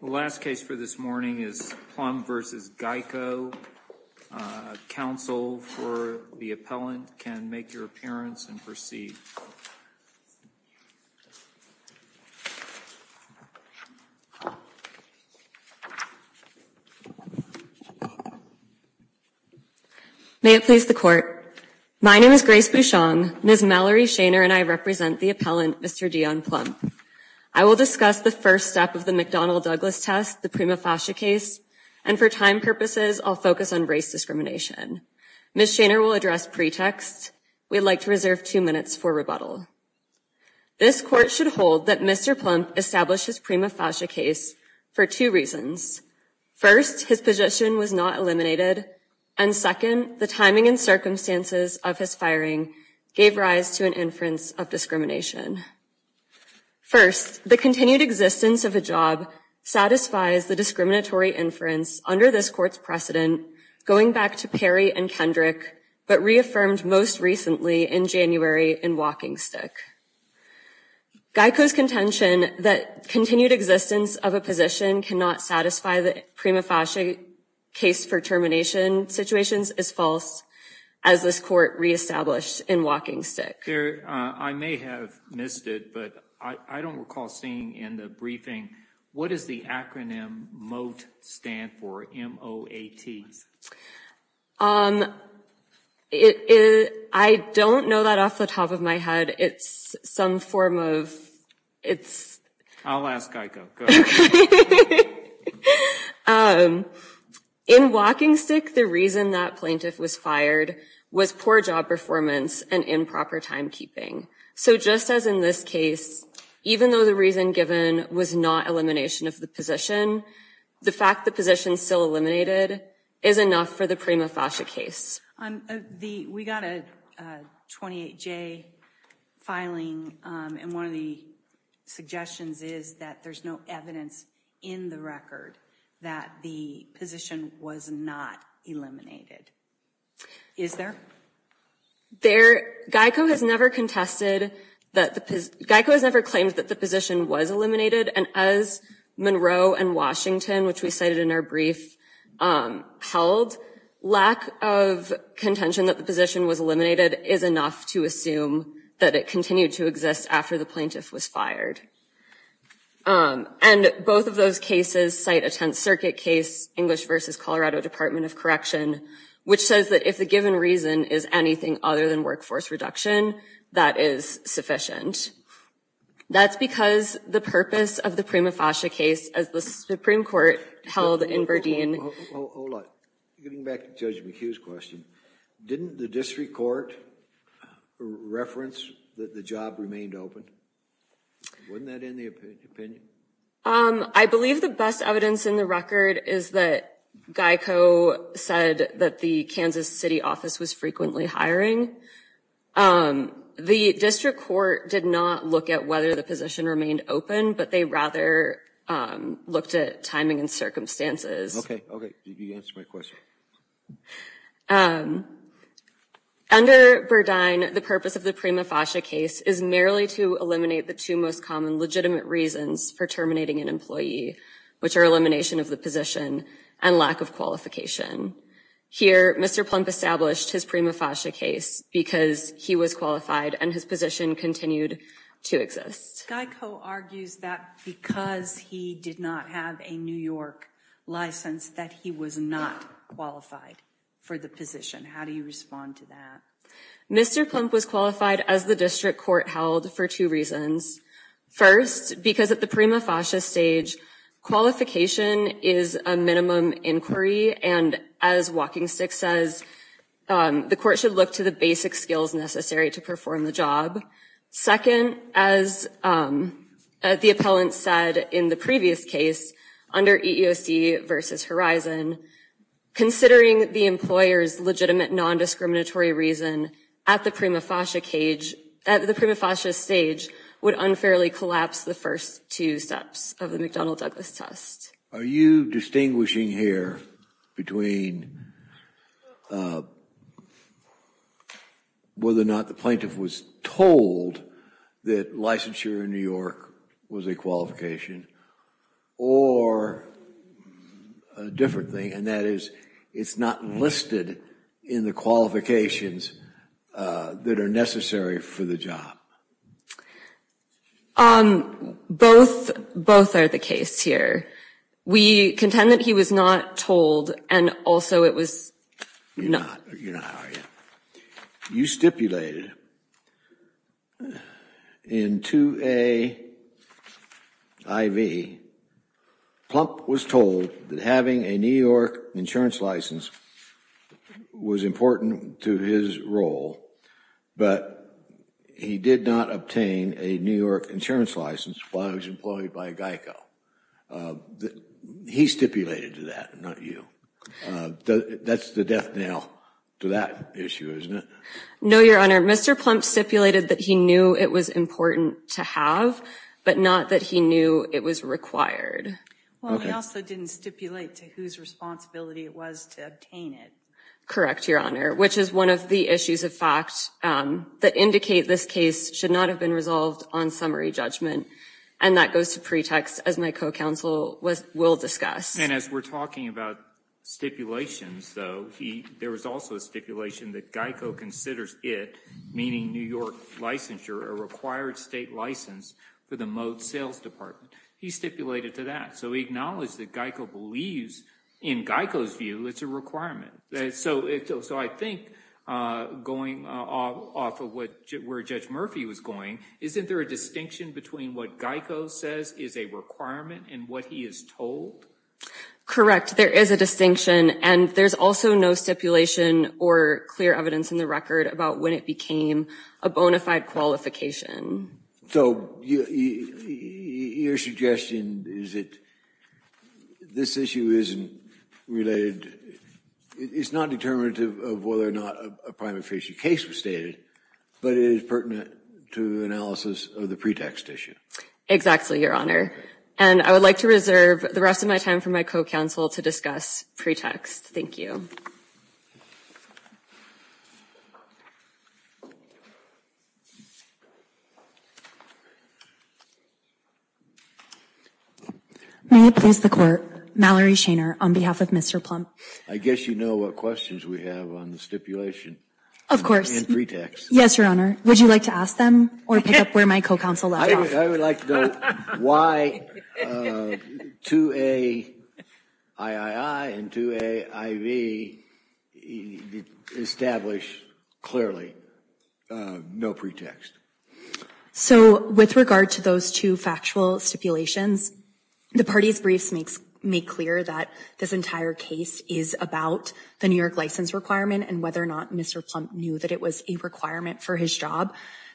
The last case for this morning is Plum v. Geico. Counsel for the appellant can make your appearance and proceed. May it please the Court. My name is Grace Bouchon. Ms. Mallory Shainer and I represent the appellant, Mr. Dionne Plump. I will discuss the first step of the McDonnell Douglas test, the prima facie case, and for time purposes, I'll focus on race discrimination. Ms. Shainer will address pretext. We'd like to reserve two minutes for rebuttal. This Court should hold that Mr. Plump established his prima facie case for two reasons. First, his position was not eliminated, and second, the timing and circumstances of his First, the continued existence of a job satisfies the discriminatory inference under this Court's precedent going back to Perry and Kendrick, but reaffirmed most recently in January in WalkingStick. Geico's contention that continued existence of a position cannot satisfy the prima facie case for termination situations is false, as this Court reestablished in WalkingStick. I may have missed it, but I don't recall seeing in the briefing, what does the acronym MOTE stand for, M-O-A-T? I don't know that off the top of my head. It's some form of, it's... I'll ask Geico, go ahead. In WalkingStick, the reason that plaintiff was fired was poor job performance and improper timekeeping. So just as in this case, even though the reason given was not elimination of the position, the fact the position's still eliminated is enough for the prima facie case. We got a 28-J filing, and one of the suggestions is that there's no evidence in the record that the position was not eliminated. Is there? There... Geico has never contested that the... Geico has never claimed that the position was eliminated, and as Monroe and Washington, which we cited in our brief, held, lack of contention that the position was eliminated is enough to assume that it continued to exist after the plaintiff was fired. And both of those cases cite a Tenth Circuit case, English v. Colorado Department of Correction, which says that if the given reason is anything other than workforce reduction, that is sufficient. That's because the purpose of the prima facie case, as the Supreme Court held in Berdeen... Hold on. Getting back to Judge McHugh's question, didn't the district court reference that the job remained open? Wasn't that in the opinion? I believe the best evidence in the record is that Geico said that the Kansas City office was frequently hiring. The district court did not look at whether the position remained open, but they rather looked at timing and circumstances. Okay. Okay. You answered my question. Under Berdeen, the purpose of the prima facie case is merely to eliminate the two most common legitimate reasons for terminating an employee, which are elimination of the position and lack of qualification. Here, Mr. Plump established his prima facie case because he was qualified and his position continued to exist. Geico argues that because he did not have a New York license, that he was not qualified for the position. How do you respond to that? Mr. Plump was qualified as the district court held for two reasons. First, because at the prima facie stage, qualification is a minimum inquiry and as WalkingStick says, the court should look to the basic skills necessary to perform the job. Second, as the appellant said in the previous case under EEOC versus Horizon, considering the employer's legitimate non-discriminatory reason at the prima facie stage would only unfairly collapse the first two steps of the McDonnell-Douglas test. Are you distinguishing here between whether or not the plaintiff was told that licensure in New York was a qualification or a different thing, and that is it's not listed in the qualifications that are necessary for the job? Um, both are the case here. We contend that he was not told and also it was not. You stipulated in 2A IV, Plump was told that having a New York insurance license was important to his role, but he did not obtain a New York insurance license while he was employed by GEICO. He stipulated to that, not you. That's the death knell to that issue, isn't it? No, Your Honor. Mr. Plump stipulated that he knew it was important to have, but not that he knew it was required. Well, he also didn't stipulate to whose responsibility it was to obtain it. Correct, Your Honor, which is one of the issues of fact that indicate this case should not have been resolved on summary judgment, and that goes to pretext, as my co-counsel will discuss. And as we're talking about stipulations, though, there was also a stipulation that GEICO considers it, meaning New York licensure, a required state license for the Moat Sales Department. He stipulated to that. So he acknowledged that GEICO believes, in GEICO's view, it's a requirement. So I think going off of where Judge Murphy was going, isn't there a distinction between what GEICO says is a requirement and what he is told? Correct. There is a distinction, and there's also no stipulation or clear evidence in the record about when it became a bona fide qualification. So your suggestion is that this issue isn't related. It's not determinative of whether or not a prime official case was stated, but it is pertinent to the analysis of the pretext issue. Exactly, Your Honor. And I would like to reserve the rest of my time for my co-counsel to discuss pretext. Thank you. May I please the court, Mallory Shainer, on behalf of Mr. Plump. I guess you know what questions we have on the stipulation. Of course. And pretext. Yes, Your Honor. Would you like to ask them, or pick up where my co-counsel left off? I would like to know why 2A III and 2A IV establish clearly no pretext. So with regard to those two factual stipulations, the parties' briefs make clear that this entire case is about the New York license requirement and whether or not Mr. Plump knew that it was a requirement for his job.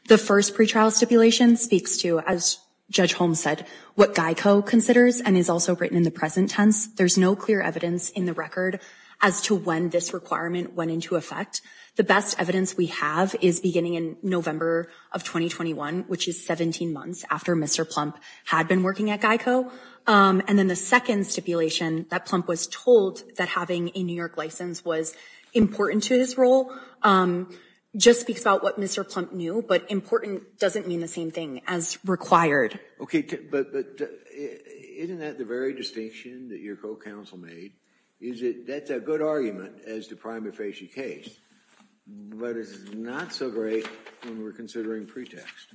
The first pretrial stipulation speaks to, as Judge Holmes said, what GEICO considers and is also written in the present tense. There's no clear evidence in the record as to when this requirement went into effect. The best evidence we have is beginning in November of 2021, which is 17 months after Mr. Plump had been working at GEICO. And then the second stipulation that Plump was told that having a New York license was important to his role just speaks about what Mr. Plump knew, but important doesn't mean the same thing as required. Okay, but isn't that the very distinction that your co-counsel made? Is that that's a good argument as to prima facie case, but it's not so great when we're considering pretext.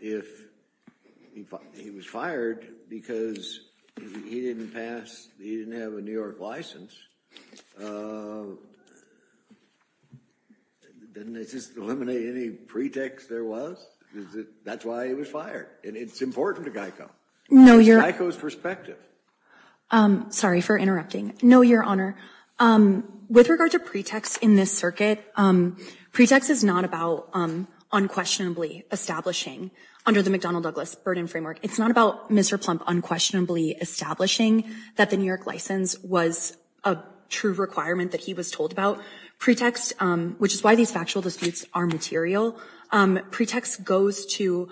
If he was fired because he didn't pass, he didn't have a New York license, didn't it just eliminate any pretext there was? That's why he was fired. And it's important to GEICO, it's GEICO's perspective. Sorry for interrupting. No, Your Honor. With regard to pretext in this circuit, pretext is not about unquestionably establishing under the McDonnell Douglas burden framework. It's not about Mr. Plump unquestionably establishing that the New York license was a true requirement that he was told about pretext, which is why these factual disputes are material. Pretext goes to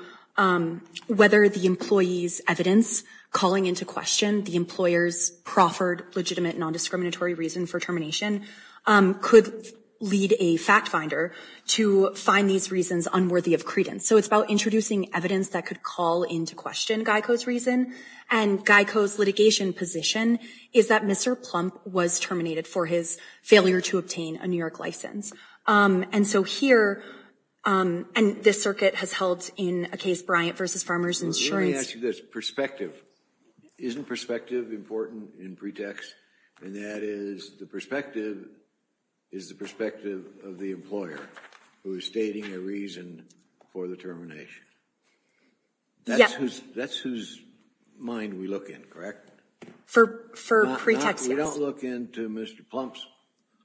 whether the employee's evidence calling into question the employer's proffered legitimate non-discriminatory reason for termination could lead a fact finder to find these reasons unworthy of credence. So it's about introducing evidence that could call into question GEICO's reason and GEICO's litigation position is that Mr. Plump was terminated for his failure to obtain a New York license. And so here, and this circuit has held in a case Bryant v. Farmer's Insurance. Let me ask you this, perspective. Isn't perspective important in pretext? And that is the perspective is the perspective of the employer who is stating a reason for the termination. That's who's that's whose mind we look in, correct? For pretext, yes. We don't look into Mr. Plump's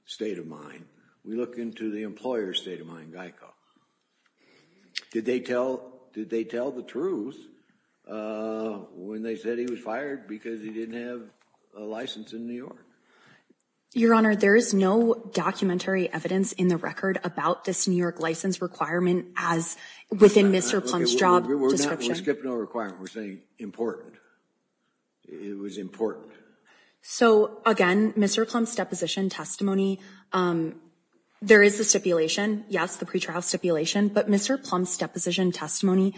state of mind. We look into the employer's state of mind, GEICO. Did they tell did they tell the truth when they said he was fired because he didn't have a license in New York? Your Honor, there is no documentary evidence in the record about this New York license requirement as within Mr. Plump's job description. We're not skipping a requirement. We're saying important. It was important. So again, Mr. Plump's deposition testimony, there is a stipulation. Yes, the pretrial stipulation. But Mr. Plump's deposition testimony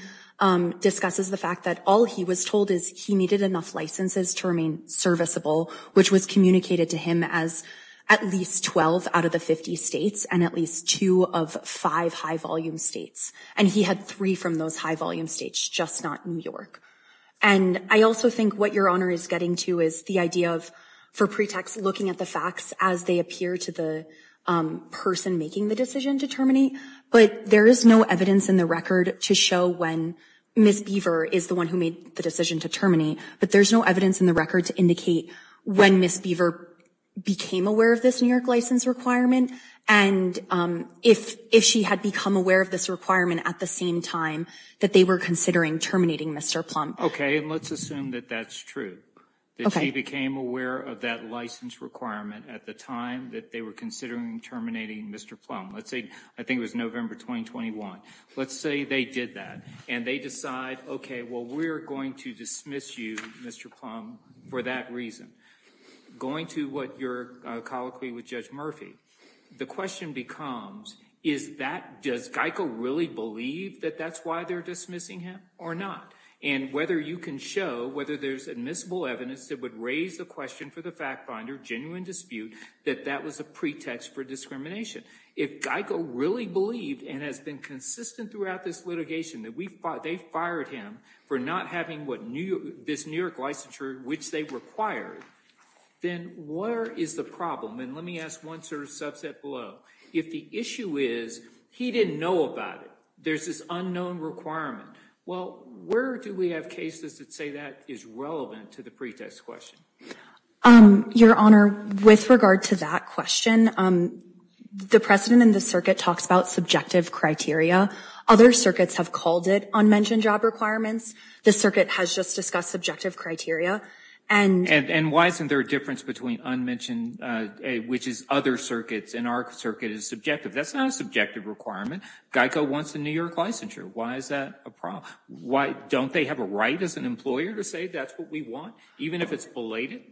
discusses the fact that all he was told is he needed enough licenses to remain serviceable, which was communicated to him as at least 12 out of the 50 states and at least two of five high volume states. And he had three from those high volume states, just not New York. And I also think what your honor is getting to is the idea of for pretext, looking at the facts as they appear to the person making the decision to terminate. But there is no evidence in the record to show when Miss Beaver is the one who made the decision to terminate. But there's no evidence in the record to indicate when Miss Beaver became aware of this New York license requirement. And if if she had become aware of this requirement at the same time that they were considering terminating Mr. Plum. OK, and let's assume that that's true. She became aware of that license requirement at the time that they were considering terminating Mr. Plum. Let's say I think it was November 2021. Let's say they did that and they decide, OK, well, we're going to dismiss you, Mr. Plum, for that reason. Going to what your colloquy with Judge Murphy. The question becomes, is that does Geico really believe that that's why they're dismissing him or not? And whether you can show whether there's admissible evidence that would raise the question for the fact finder, genuine dispute that that was a pretext for discrimination. If Geico really believed and has been consistent throughout this litigation, that we thought they fired him for not having what this New York licensure, which they required. Then what is the problem? And let me ask one sort of subset below. If the issue is he didn't know about it, there's this unknown requirement. Well, where do we have cases that say that is relevant to the pretext question? Your Honor, with regard to that question, the president in the circuit talks about subjective criteria. Other circuits have called it unmentioned job requirements. The circuit has just discussed subjective criteria. And why isn't there a difference between unmentioned, which is other circuits and our circuit is subjective? That's not a subjective requirement. Geico wants a New York licensure. Why is that a problem? Why don't they have a right as an employer to say that's what we want, even if it's belated?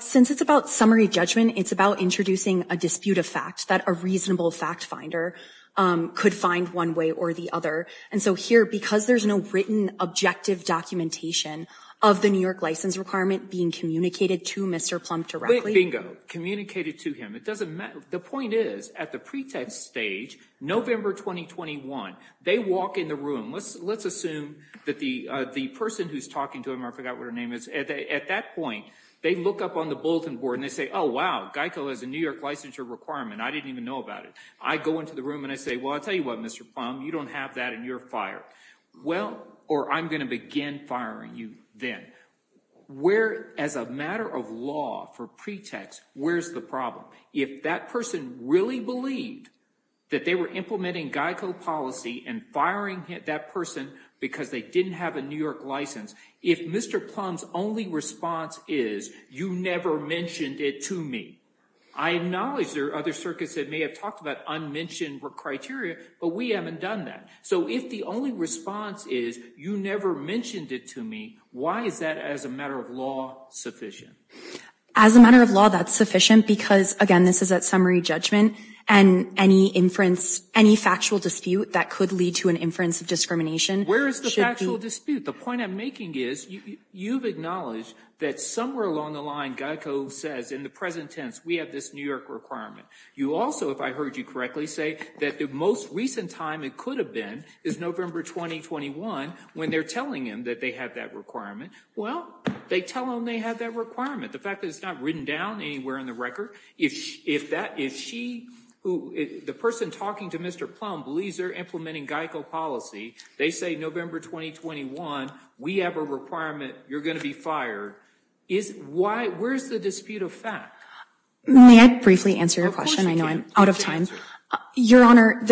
Since it's about summary judgment, it's about introducing a dispute of fact that a reasonable fact finder could find one way or the other. And so here, because there's no written objective documentation of the New York license requirement being communicated to Mr. Plump directly. Bingo. Communicated to him. It doesn't matter. The point is at the pretext stage, November 2021, they walk in the room. Let's assume that the person who's talking to him, I forgot what her name is. At that point, they look up on the bulletin board and they say, oh, wow, Geico has a New York licensure requirement. I didn't even know about it. I go into the room and I say, well, I'll tell you what, Mr. Plum, you don't have that in your fire. Well, or I'm going to begin firing you then. Where as a matter of law for pretext, where's the problem? If that person really believed that they were implementing Geico policy and firing that person because they didn't have a New York license. If Mr. Plum's only response is you never mentioned it to me. I acknowledge there are other circuits that may have talked about unmentioned criteria, but we haven't done that. So if the only response is you never mentioned it to me, why is that as a matter of law sufficient? As a matter of law, that's sufficient because, again, this is a summary judgment. And any inference, any factual dispute that could lead to an inference of discrimination. Where is the factual dispute? The point I'm making is you've acknowledged that somewhere along the line, Geico says in the present tense, we have this New York requirement. You also, if I heard you correctly, say that the most recent time it could have been is November 2021 when they're telling him that they have that requirement. Well, they tell them they have that requirement. The fact that it's not written down anywhere in the record. If the person talking to Mr. Plum believes they're implementing Geico policy, they say November 2021, we have a requirement. You're going to be fired. Where's the dispute of fact? May I briefly answer your question? I know I'm out of time. Your Honor,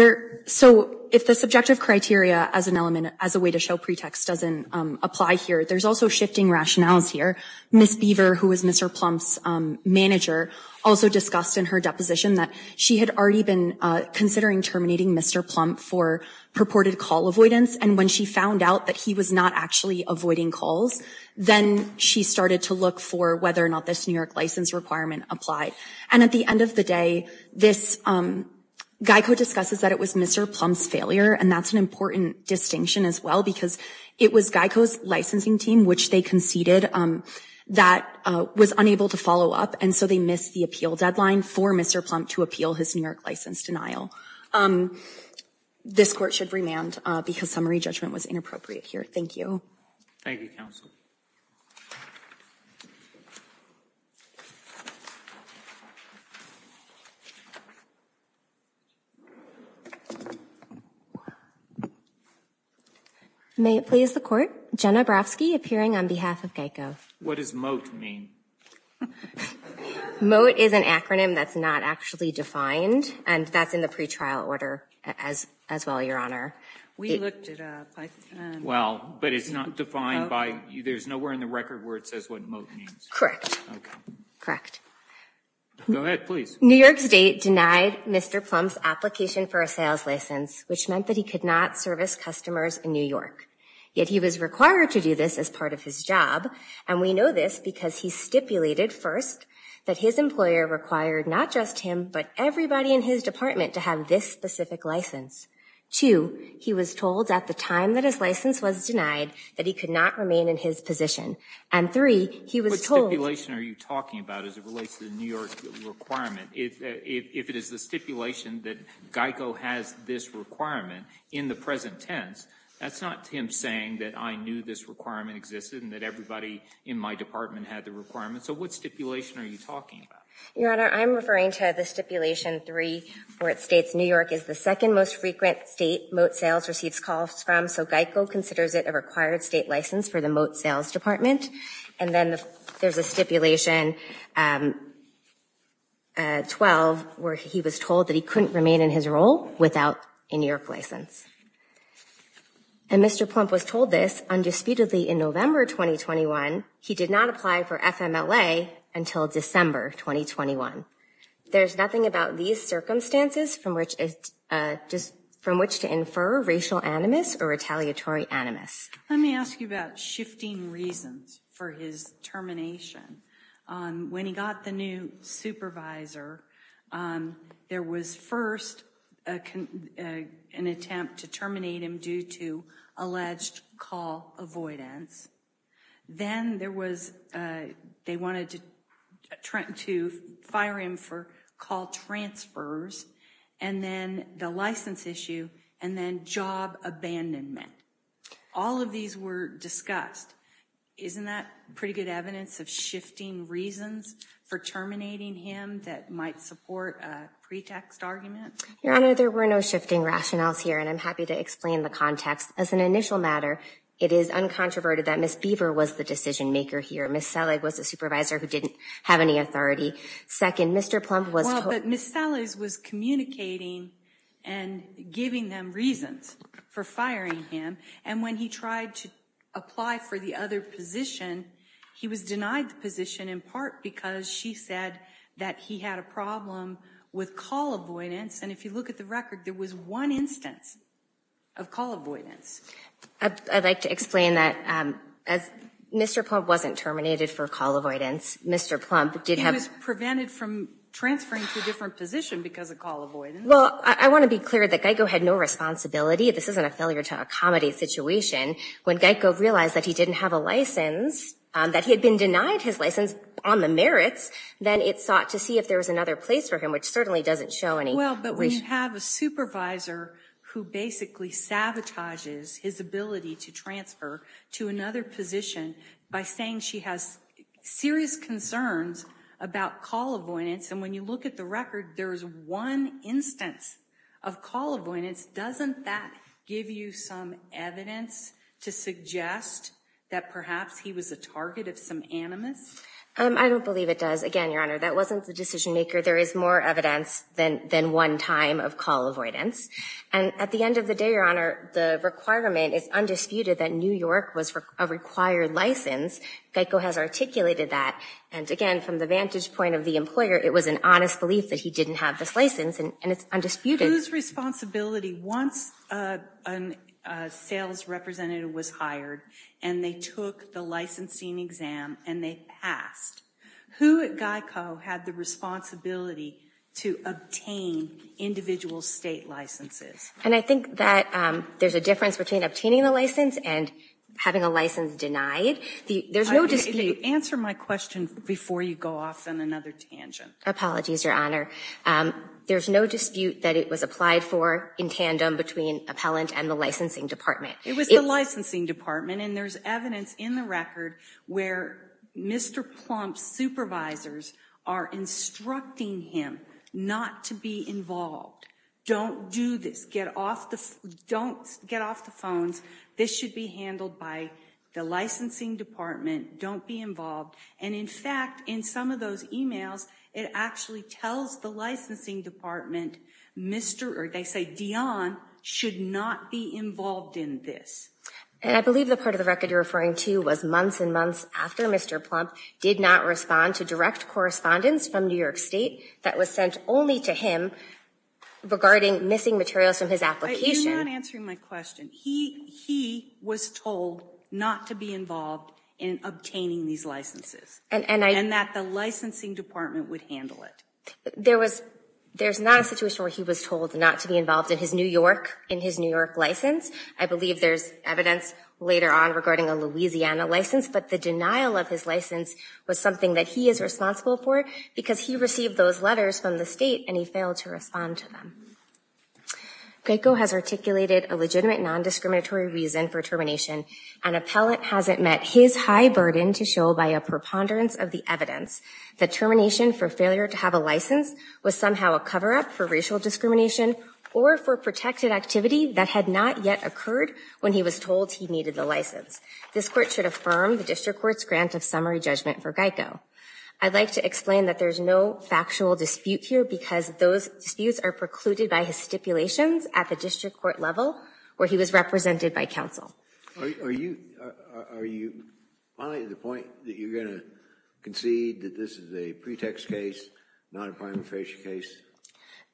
so if the subjective criteria as an element, as a way to show pretext doesn't apply here, there's also shifting rationales here. Ms. Beaver, who was Mr. Plum's manager, also discussed in her deposition that she had already been considering terminating Mr. Plum for purported call avoidance. And when she found out that he was not actually avoiding calls, then she started to look for whether or not this New York license requirement applied. And at the end of the day, Geico discusses that it was Mr. Plum's failure. And that's an important distinction as well, because it was Geico's licensing team, which they conceded, that was unable to follow up. And so they missed the appeal deadline for Mr. Plum to appeal his New York license denial. This court should remand because summary judgment was inappropriate here. Thank you. Thank you, counsel. May it please the court. Jenna Brofsky appearing on behalf of Geico. What does MOTE mean? MOTE is an acronym that's not actually defined. And that's in the pretrial order as well, Your Honor. We looked it up. Well, but it's not defined by, there's nowhere in the record where it says what MOTE means. Correct. Correct. Go ahead, please. New York State denied Mr. Plum's application for a sales license, which meant that he could not service customers in New York. Yet he was required to do this as part of his job. And we know this because he stipulated first that his employer required not just him, but everybody in his department to have this specific license. Two, he was told at the time that his license was denied that he could not remain in his position. And three, he was told. What stipulation are you talking about as it relates to the New York requirement? If it is the stipulation that Geico has this requirement in the present tense, that's not him saying that I knew this requirement existed and that everybody in my department had the requirement. So what stipulation are you talking about? Your Honor, I'm referring to the stipulation three where it states New York is the second most frequent state MOTE sales receives calls from. So Geico considers it a required state license for the MOTE sales department. And then there's a stipulation 12 where he was told that he couldn't remain in his role without a New York license. And Mr. Plum was told this undisputedly in November 2021. He did not apply for FMLA until December 2021. There's nothing about these circumstances from which to infer racial animus or retaliatory animus. Let me ask you about shifting reasons for his termination. When he got the new supervisor, there was first an attempt to terminate him due to alleged call avoidance. Then there was, they wanted to fire him for call transfers and then the license issue and then job abandonment. All of these were discussed. Isn't that pretty good evidence of shifting reasons for terminating him that might support a pretext argument? Your Honor, there were no shifting rationales here and I'm happy to explain the context. As an initial matter, it is uncontroverted that Ms. Beaver was the decision maker here. Ms. Selleck was a supervisor who didn't have any authority. Second, Mr. Plum was- Well, but Ms. Selleck was communicating and giving them reasons for firing him. And when he tried to apply for the other position, he was denied the position in part because she said that he had a problem with call avoidance. And if you look at the record, there was one instance of call avoidance. I'd like to explain that Mr. Plum wasn't terminated for call avoidance. Mr. Plum did have- He was prevented from transferring to a different position because of call avoidance. Well, I want to be clear that Geico had no responsibility. This isn't a failure to accommodate situation. When Geico realized that he didn't have a license, that he had been denied his license on the merits, then it sought to see if there was another place for him, which certainly doesn't show any- Well, but we have a supervisor who basically sabotages his ability to transfer to another position by saying she has serious concerns about call avoidance. And when you look at the record, there is one instance of call avoidance. Doesn't that give you some evidence to suggest that perhaps he was a target of some animus? I don't believe it does. Again, Your Honor, that wasn't the decision maker. There is more evidence than one time of call avoidance. And at the end of the day, Your Honor, the requirement is undisputed that New York was a required license. Geico has articulated that. And again, from the vantage point of the employer, it was an honest belief that he didn't have this license, and it's undisputed. Whose responsibility, once a sales representative was hired and they took the licensing exam and they passed, who at Geico had the responsibility to obtain individual state licenses? And I think that there's a difference between obtaining the license and having a license denied. There's no dispute- Answer my question before you go off on another tangent. Apologies, Your Honor. There's no dispute that it was applied for in tandem between appellant and the licensing department. It was the licensing department, and there's evidence in the record where Mr. Plump's supervisors are instructing him not to be involved. Don't do this. Don't get off the phones. This should be handled by the licensing department. Don't be involved. And, in fact, in some of those emails, it actually tells the licensing department, they say, Dion should not be involved in this. And I believe the part of the record you're referring to was months and months after Mr. Plump did not respond to direct correspondence from New York State that was sent only to him regarding missing materials from his application. You're not answering my question. He was told not to be involved in obtaining these licenses and that the licensing department would handle it. There's not a situation where he was told not to be involved in his New York license. I believe there's evidence later on regarding a Louisiana license, but the denial of his license was something that he is responsible for because he received those letters from the state and he failed to respond to them. Geico has articulated a legitimate non-discriminatory reason for termination. An appellate hasn't met his high burden to show by a preponderance of the evidence. The termination for failure to have a license was somehow a cover-up for racial discrimination or for protected activity that had not yet occurred when he was told he needed the license. This court should affirm the district court's grant of summary judgment for Geico. I'd like to explain that there's no factual dispute here because those disputes are precluded by his stipulations at the district court level where he was represented by counsel. Are you finding the point that you're going to concede that this is a pretext case, not a prima facie case?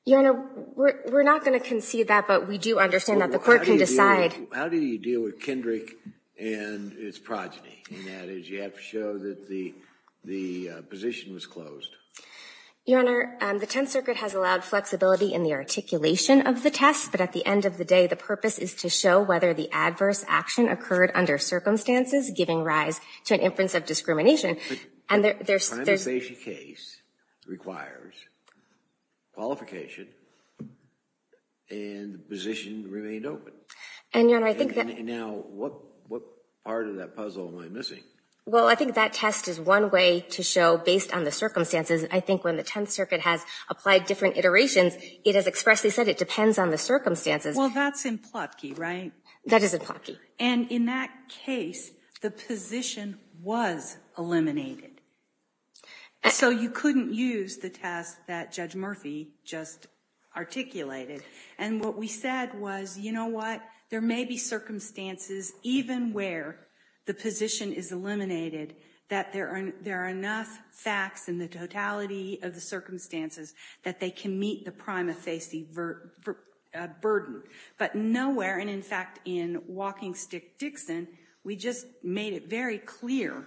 Your Honor, we're not going to concede that, but we do understand that the court can decide. How do you deal with Kendrick and his progeny? That is, you have to show that the position was closed. Your Honor, the Tenth Circuit has allowed flexibility in the articulation of the test, but at the end of the day, the purpose is to show whether the adverse action occurred under circumstances giving rise to an inference of discrimination. The prima facie case requires qualification and the position remained open. And, Your Honor, I think that... Now, what part of that puzzle am I missing? Well, I think that test is one way to show based on the circumstances. I think when the Tenth Circuit has applied different iterations, it has expressly said it depends on the circumstances. Well, that's in Plotki, right? That is in Plotki. And in that case, the position was eliminated. So you couldn't use the test that Judge Murphy just articulated. And what we said was, you know what, there may be circumstances even where the position is eliminated that there are enough facts in the totality of the circumstances that they can meet the prima facie burden. But nowhere, and in fact, in WalkingStick-Dixon, we just made it very clear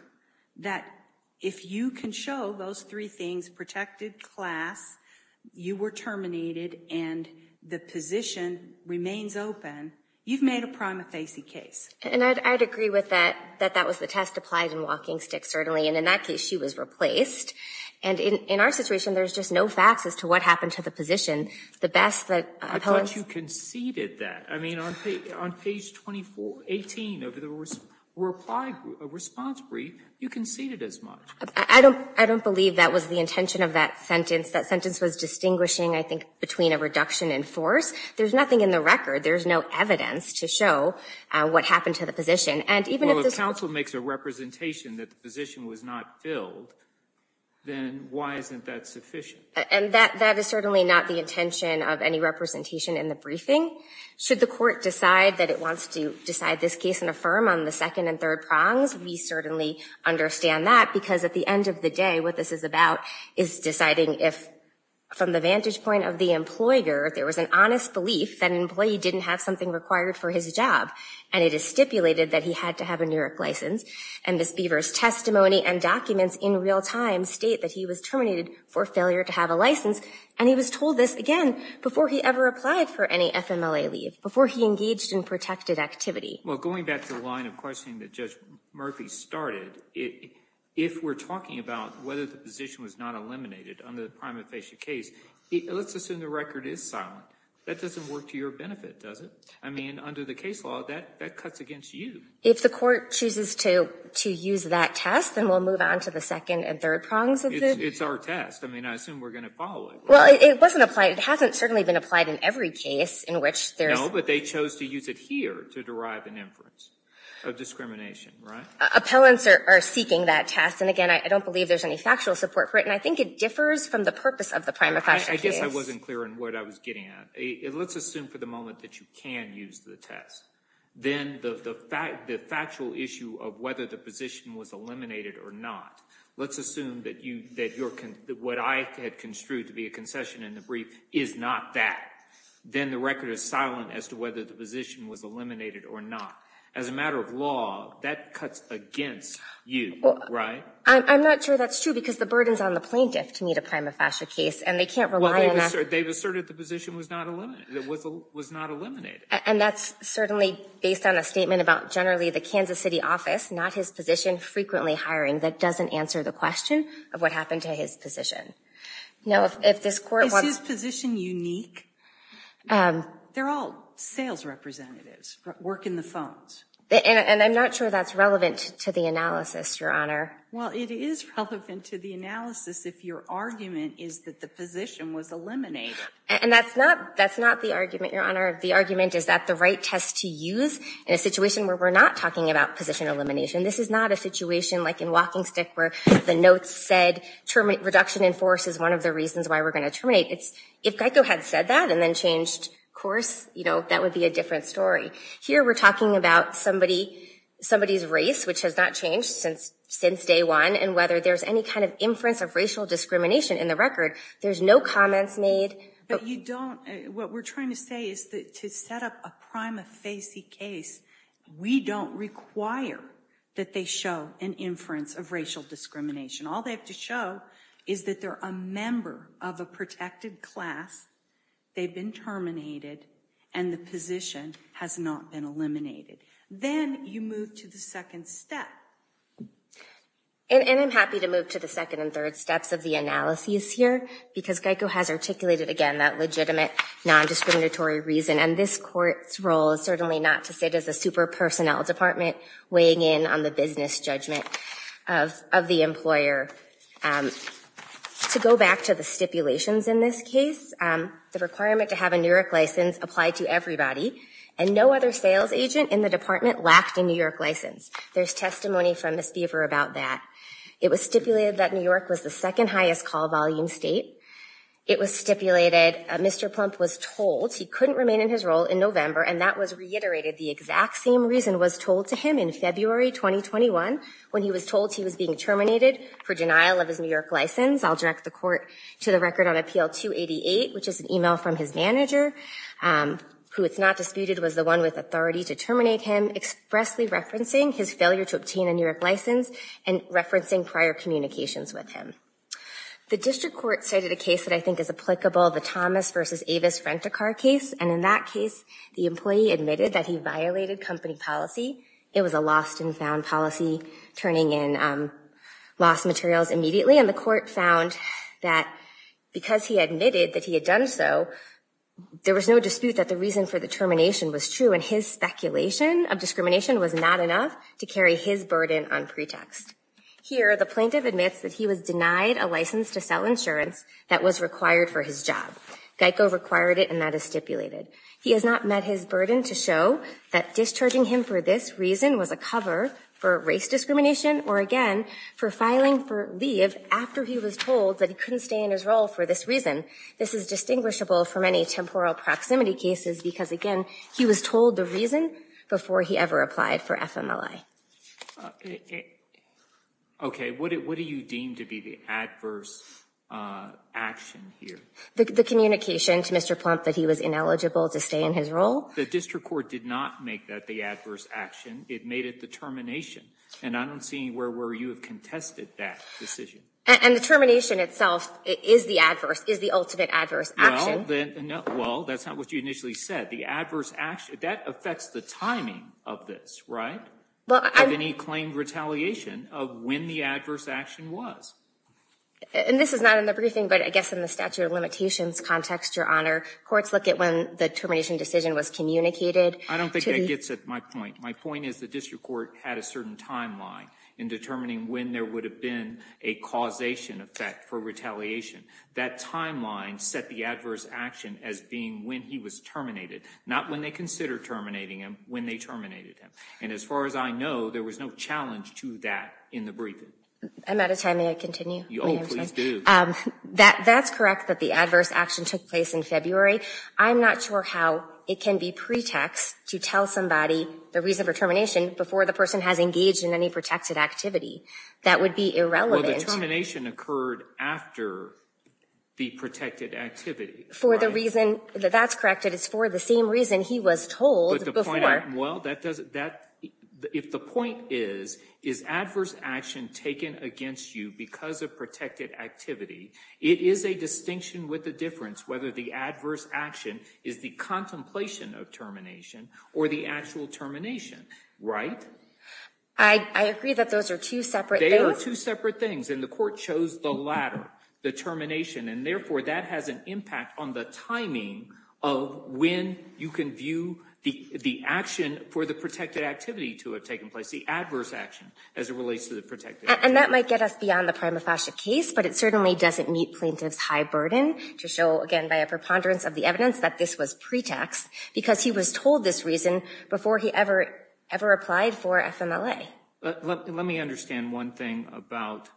that if you can show those three things, protected class, you were terminated, and the position remains open, you've made a prima facie case. And I'd agree with that, that that was the test applied in WalkingStick, certainly. And in that case, she was replaced. And in our situation, there's just no facts as to what happened to the position. I thought you conceded that. I mean, on page 18 of the response brief, you conceded as much. I don't believe that was the intention of that sentence. That sentence was distinguishing, I think, between a reduction in force. There's nothing in the record. There's no evidence to show what happened to the position. Well, if counsel makes a representation that the position was not filled, then why isn't that sufficient? And that is certainly not the intention of any representation in the briefing. Should the court decide that it wants to decide this case and affirm on the second and third prongs, we certainly understand that, because at the end of the day, what this is about is deciding if, from the vantage point of the employer, there was an honest belief that an employee didn't have something required for his job, and it is stipulated that he had to have a New York license, and Ms. Beaver's testimony and documents in real time state that he was terminated for failure to have a license, and he was told this again before he ever applied for any FMLA leave, before he engaged in protected activity. Well, going back to the line of questioning that Judge Murphy started, if we're talking about whether the position was not eliminated under the prima facie case, let's assume the record is silent. That doesn't work to your benefit, does it? I mean, under the case law, that cuts against you. If the court chooses to use that test, then we'll move on to the second and third prongs of it? It's our test. I mean, I assume we're going to follow it, right? Well, it wasn't applied. It hasn't certainly been applied in every case in which there's— No, but they chose to use it here to derive an inference of discrimination, right? Appellants are seeking that test, and again, I don't believe there's any factual support for it, and I think it differs from the purpose of the prima facie case. I guess I wasn't clear in what I was getting at. Let's assume for the moment that you can use the test. Then the factual issue of whether the position was eliminated or not, let's assume that what I had construed to be a concession in the brief is not that. Then the record is silent as to whether the position was eliminated or not. As a matter of law, that cuts against you, right? I'm not sure that's true because the burden's on the plaintiff to meet a prima facie case, and they can't rely on— They've asserted the position was not eliminated. And that's certainly based on a statement about generally the Kansas City office, not his position, frequently hiring. That doesn't answer the question of what happened to his position. Is his position unique? They're all sales representatives working the phones. And I'm not sure that's relevant to the analysis, Your Honor. Well, it is relevant to the analysis if your argument is that the position was eliminated. And that's not the argument, Your Honor. The argument is that the right test to use in a situation where we're not talking about position elimination, this is not a situation like in WalkingStick where the notes said reduction in force is one of the reasons why we're going to terminate. If Geico had said that and then changed course, you know, that would be a different story. Here we're talking about somebody's race, which has not changed since day one, and whether there's any kind of inference of racial discrimination in the record. There's no comments made. But you don't—what we're trying to say is that to set up a prima facie case, we don't require that they show an inference of racial discrimination. All they have to show is that they're a member of a protected class, they've been terminated, and the position has not been eliminated. Then you move to the second step. And I'm happy to move to the second and third steps of the analysis here because Geico has articulated again that legitimate nondiscriminatory reason. And this Court's role is certainly not to sit as a super personnel department weighing in on the business judgment of the employer. To go back to the stipulations in this case, the requirement to have a New York license applied to everybody, and no other sales agent in the department lacked a New York license. There's testimony from Ms. Beaver about that. It was stipulated that New York was the second highest call volume state. It was stipulated Mr. Plump was told he couldn't remain in his role in November, and that was reiterated. The exact same reason was told to him in February 2021 when he was told he was being terminated for denial of his New York license. I'll direct the Court to the record on Appeal 288, which is an email from his manager, who it's not disputed was the one with authority to terminate him, expressly referencing his failure to obtain a New York license and referencing prior communications with him. The District Court cited a case that I think is applicable, the Thomas v. Avis-Frentikar case. And in that case, the employee admitted that he violated company policy. It was a lost-and-found policy, turning in lost materials immediately. And the Court found that because he admitted that he had done so, there was no dispute that the reason for the termination was true, and his speculation of discrimination was not enough to carry his burden on pretext. Here, the plaintiff admits that he was denied a license to sell insurance that was required for his job. GEICO required it, and that is stipulated. He has not met his burden to show that discharging him for this reason was a cover for race discrimination or, again, for filing for leave after he was told that he couldn't stay in his role for this reason. This is distinguishable from any temporal proximity cases because, again, he was told the reason before he ever applied for FMLA. Okay, what do you deem to be the adverse action here? The communication to Mr. Plump that he was ineligible to stay in his role? The district court did not make that the adverse action. It made it the termination. And I don't see where you have contested that decision. And the termination itself is the adverse, is the ultimate adverse action. Well, that's not what you initially said. The adverse action, that affects the timing of this, right, of any claimed retaliation of when the adverse action was. And this is not in the briefing, but I guess in the statute of limitations context, Your Honor, courts look at when the termination decision was communicated. I don't think that gets at my point. My point is the district court had a certain timeline in determining when there would have been a causation effect for retaliation. That timeline set the adverse action as being when he was terminated, not when they considered terminating him, when they terminated him. And as far as I know, there was no challenge to that in the briefing. I'm out of time. May I continue? Oh, please do. That's correct that the adverse action took place in February. I'm not sure how it can be pretext to tell somebody the reason for termination before the person has engaged in any protected activity. That would be irrelevant. Well, the termination occurred after the protected activity. For the reason, that's correct. It's for the same reason he was told before. Well, if the point is, is adverse action taken against you because of protected activity, it is a distinction with a difference whether the adverse action is the contemplation of termination or the actual termination, right? I agree that those are two separate things. They are two separate things, and the court chose the latter, the termination. And therefore, that has an impact on the timing of when you can view the action for the protected activity to have taken place, the adverse action as it relates to the protected activity. And that might get us beyond the prima facie case, but it certainly doesn't meet plaintiff's high burden to show, again, by a preponderance of the evidence that this was pretext because he was told this reason before he ever applied for FMLA. Let me understand one thing about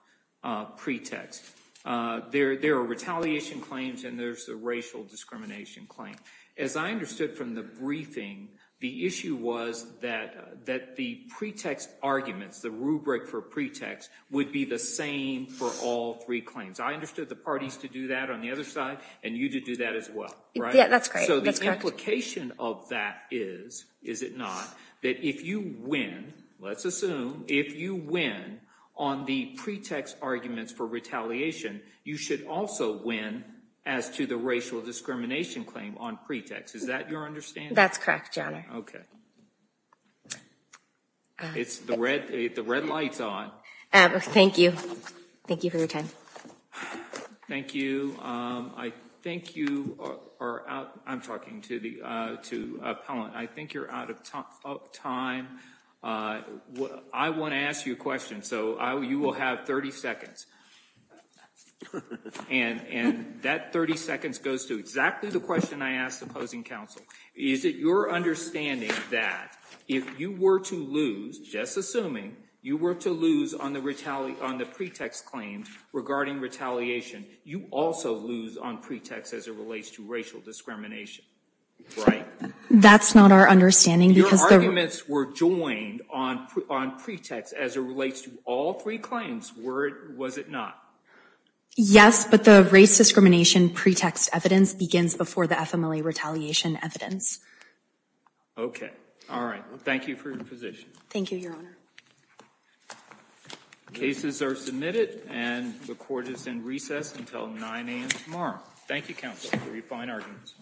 pretext. There are retaliation claims, and there's a racial discrimination claim. As I understood from the briefing, the issue was that the pretext arguments, the rubric for pretext, would be the same for all three claims. I understood the parties to do that on the other side, and you did do that as well. Yeah, that's correct. So the implication of that is, is it not, that if you win, let's assume, if you win on the pretext arguments for retaliation, you should also win as to the racial discrimination claim on pretext. Is that your understanding? That's correct, Your Honor. Okay. The red light's on. Thank you. Thank you for your time. Thank you. I think you are out. I'm talking to the appellant. I think you're out of time. I want to ask you a question, so you will have 30 seconds. And that 30 seconds goes to exactly the question I asked the opposing counsel. Is it your understanding that if you were to lose, just assuming, you were to lose on the pretext claims regarding retaliation, you also lose on pretext as it relates to racial discrimination, right? That's not our understanding. Your arguments were joined on pretext as it relates to all three claims, was it not? Yes, but the race discrimination pretext evidence begins before the FMLA retaliation evidence. Okay. All right. Thank you for your position. Thank you, Your Honor. Cases are submitted, and the court is in recess until 9 a.m. tomorrow. Thank you, counsel, for your fine arguments. Thank you.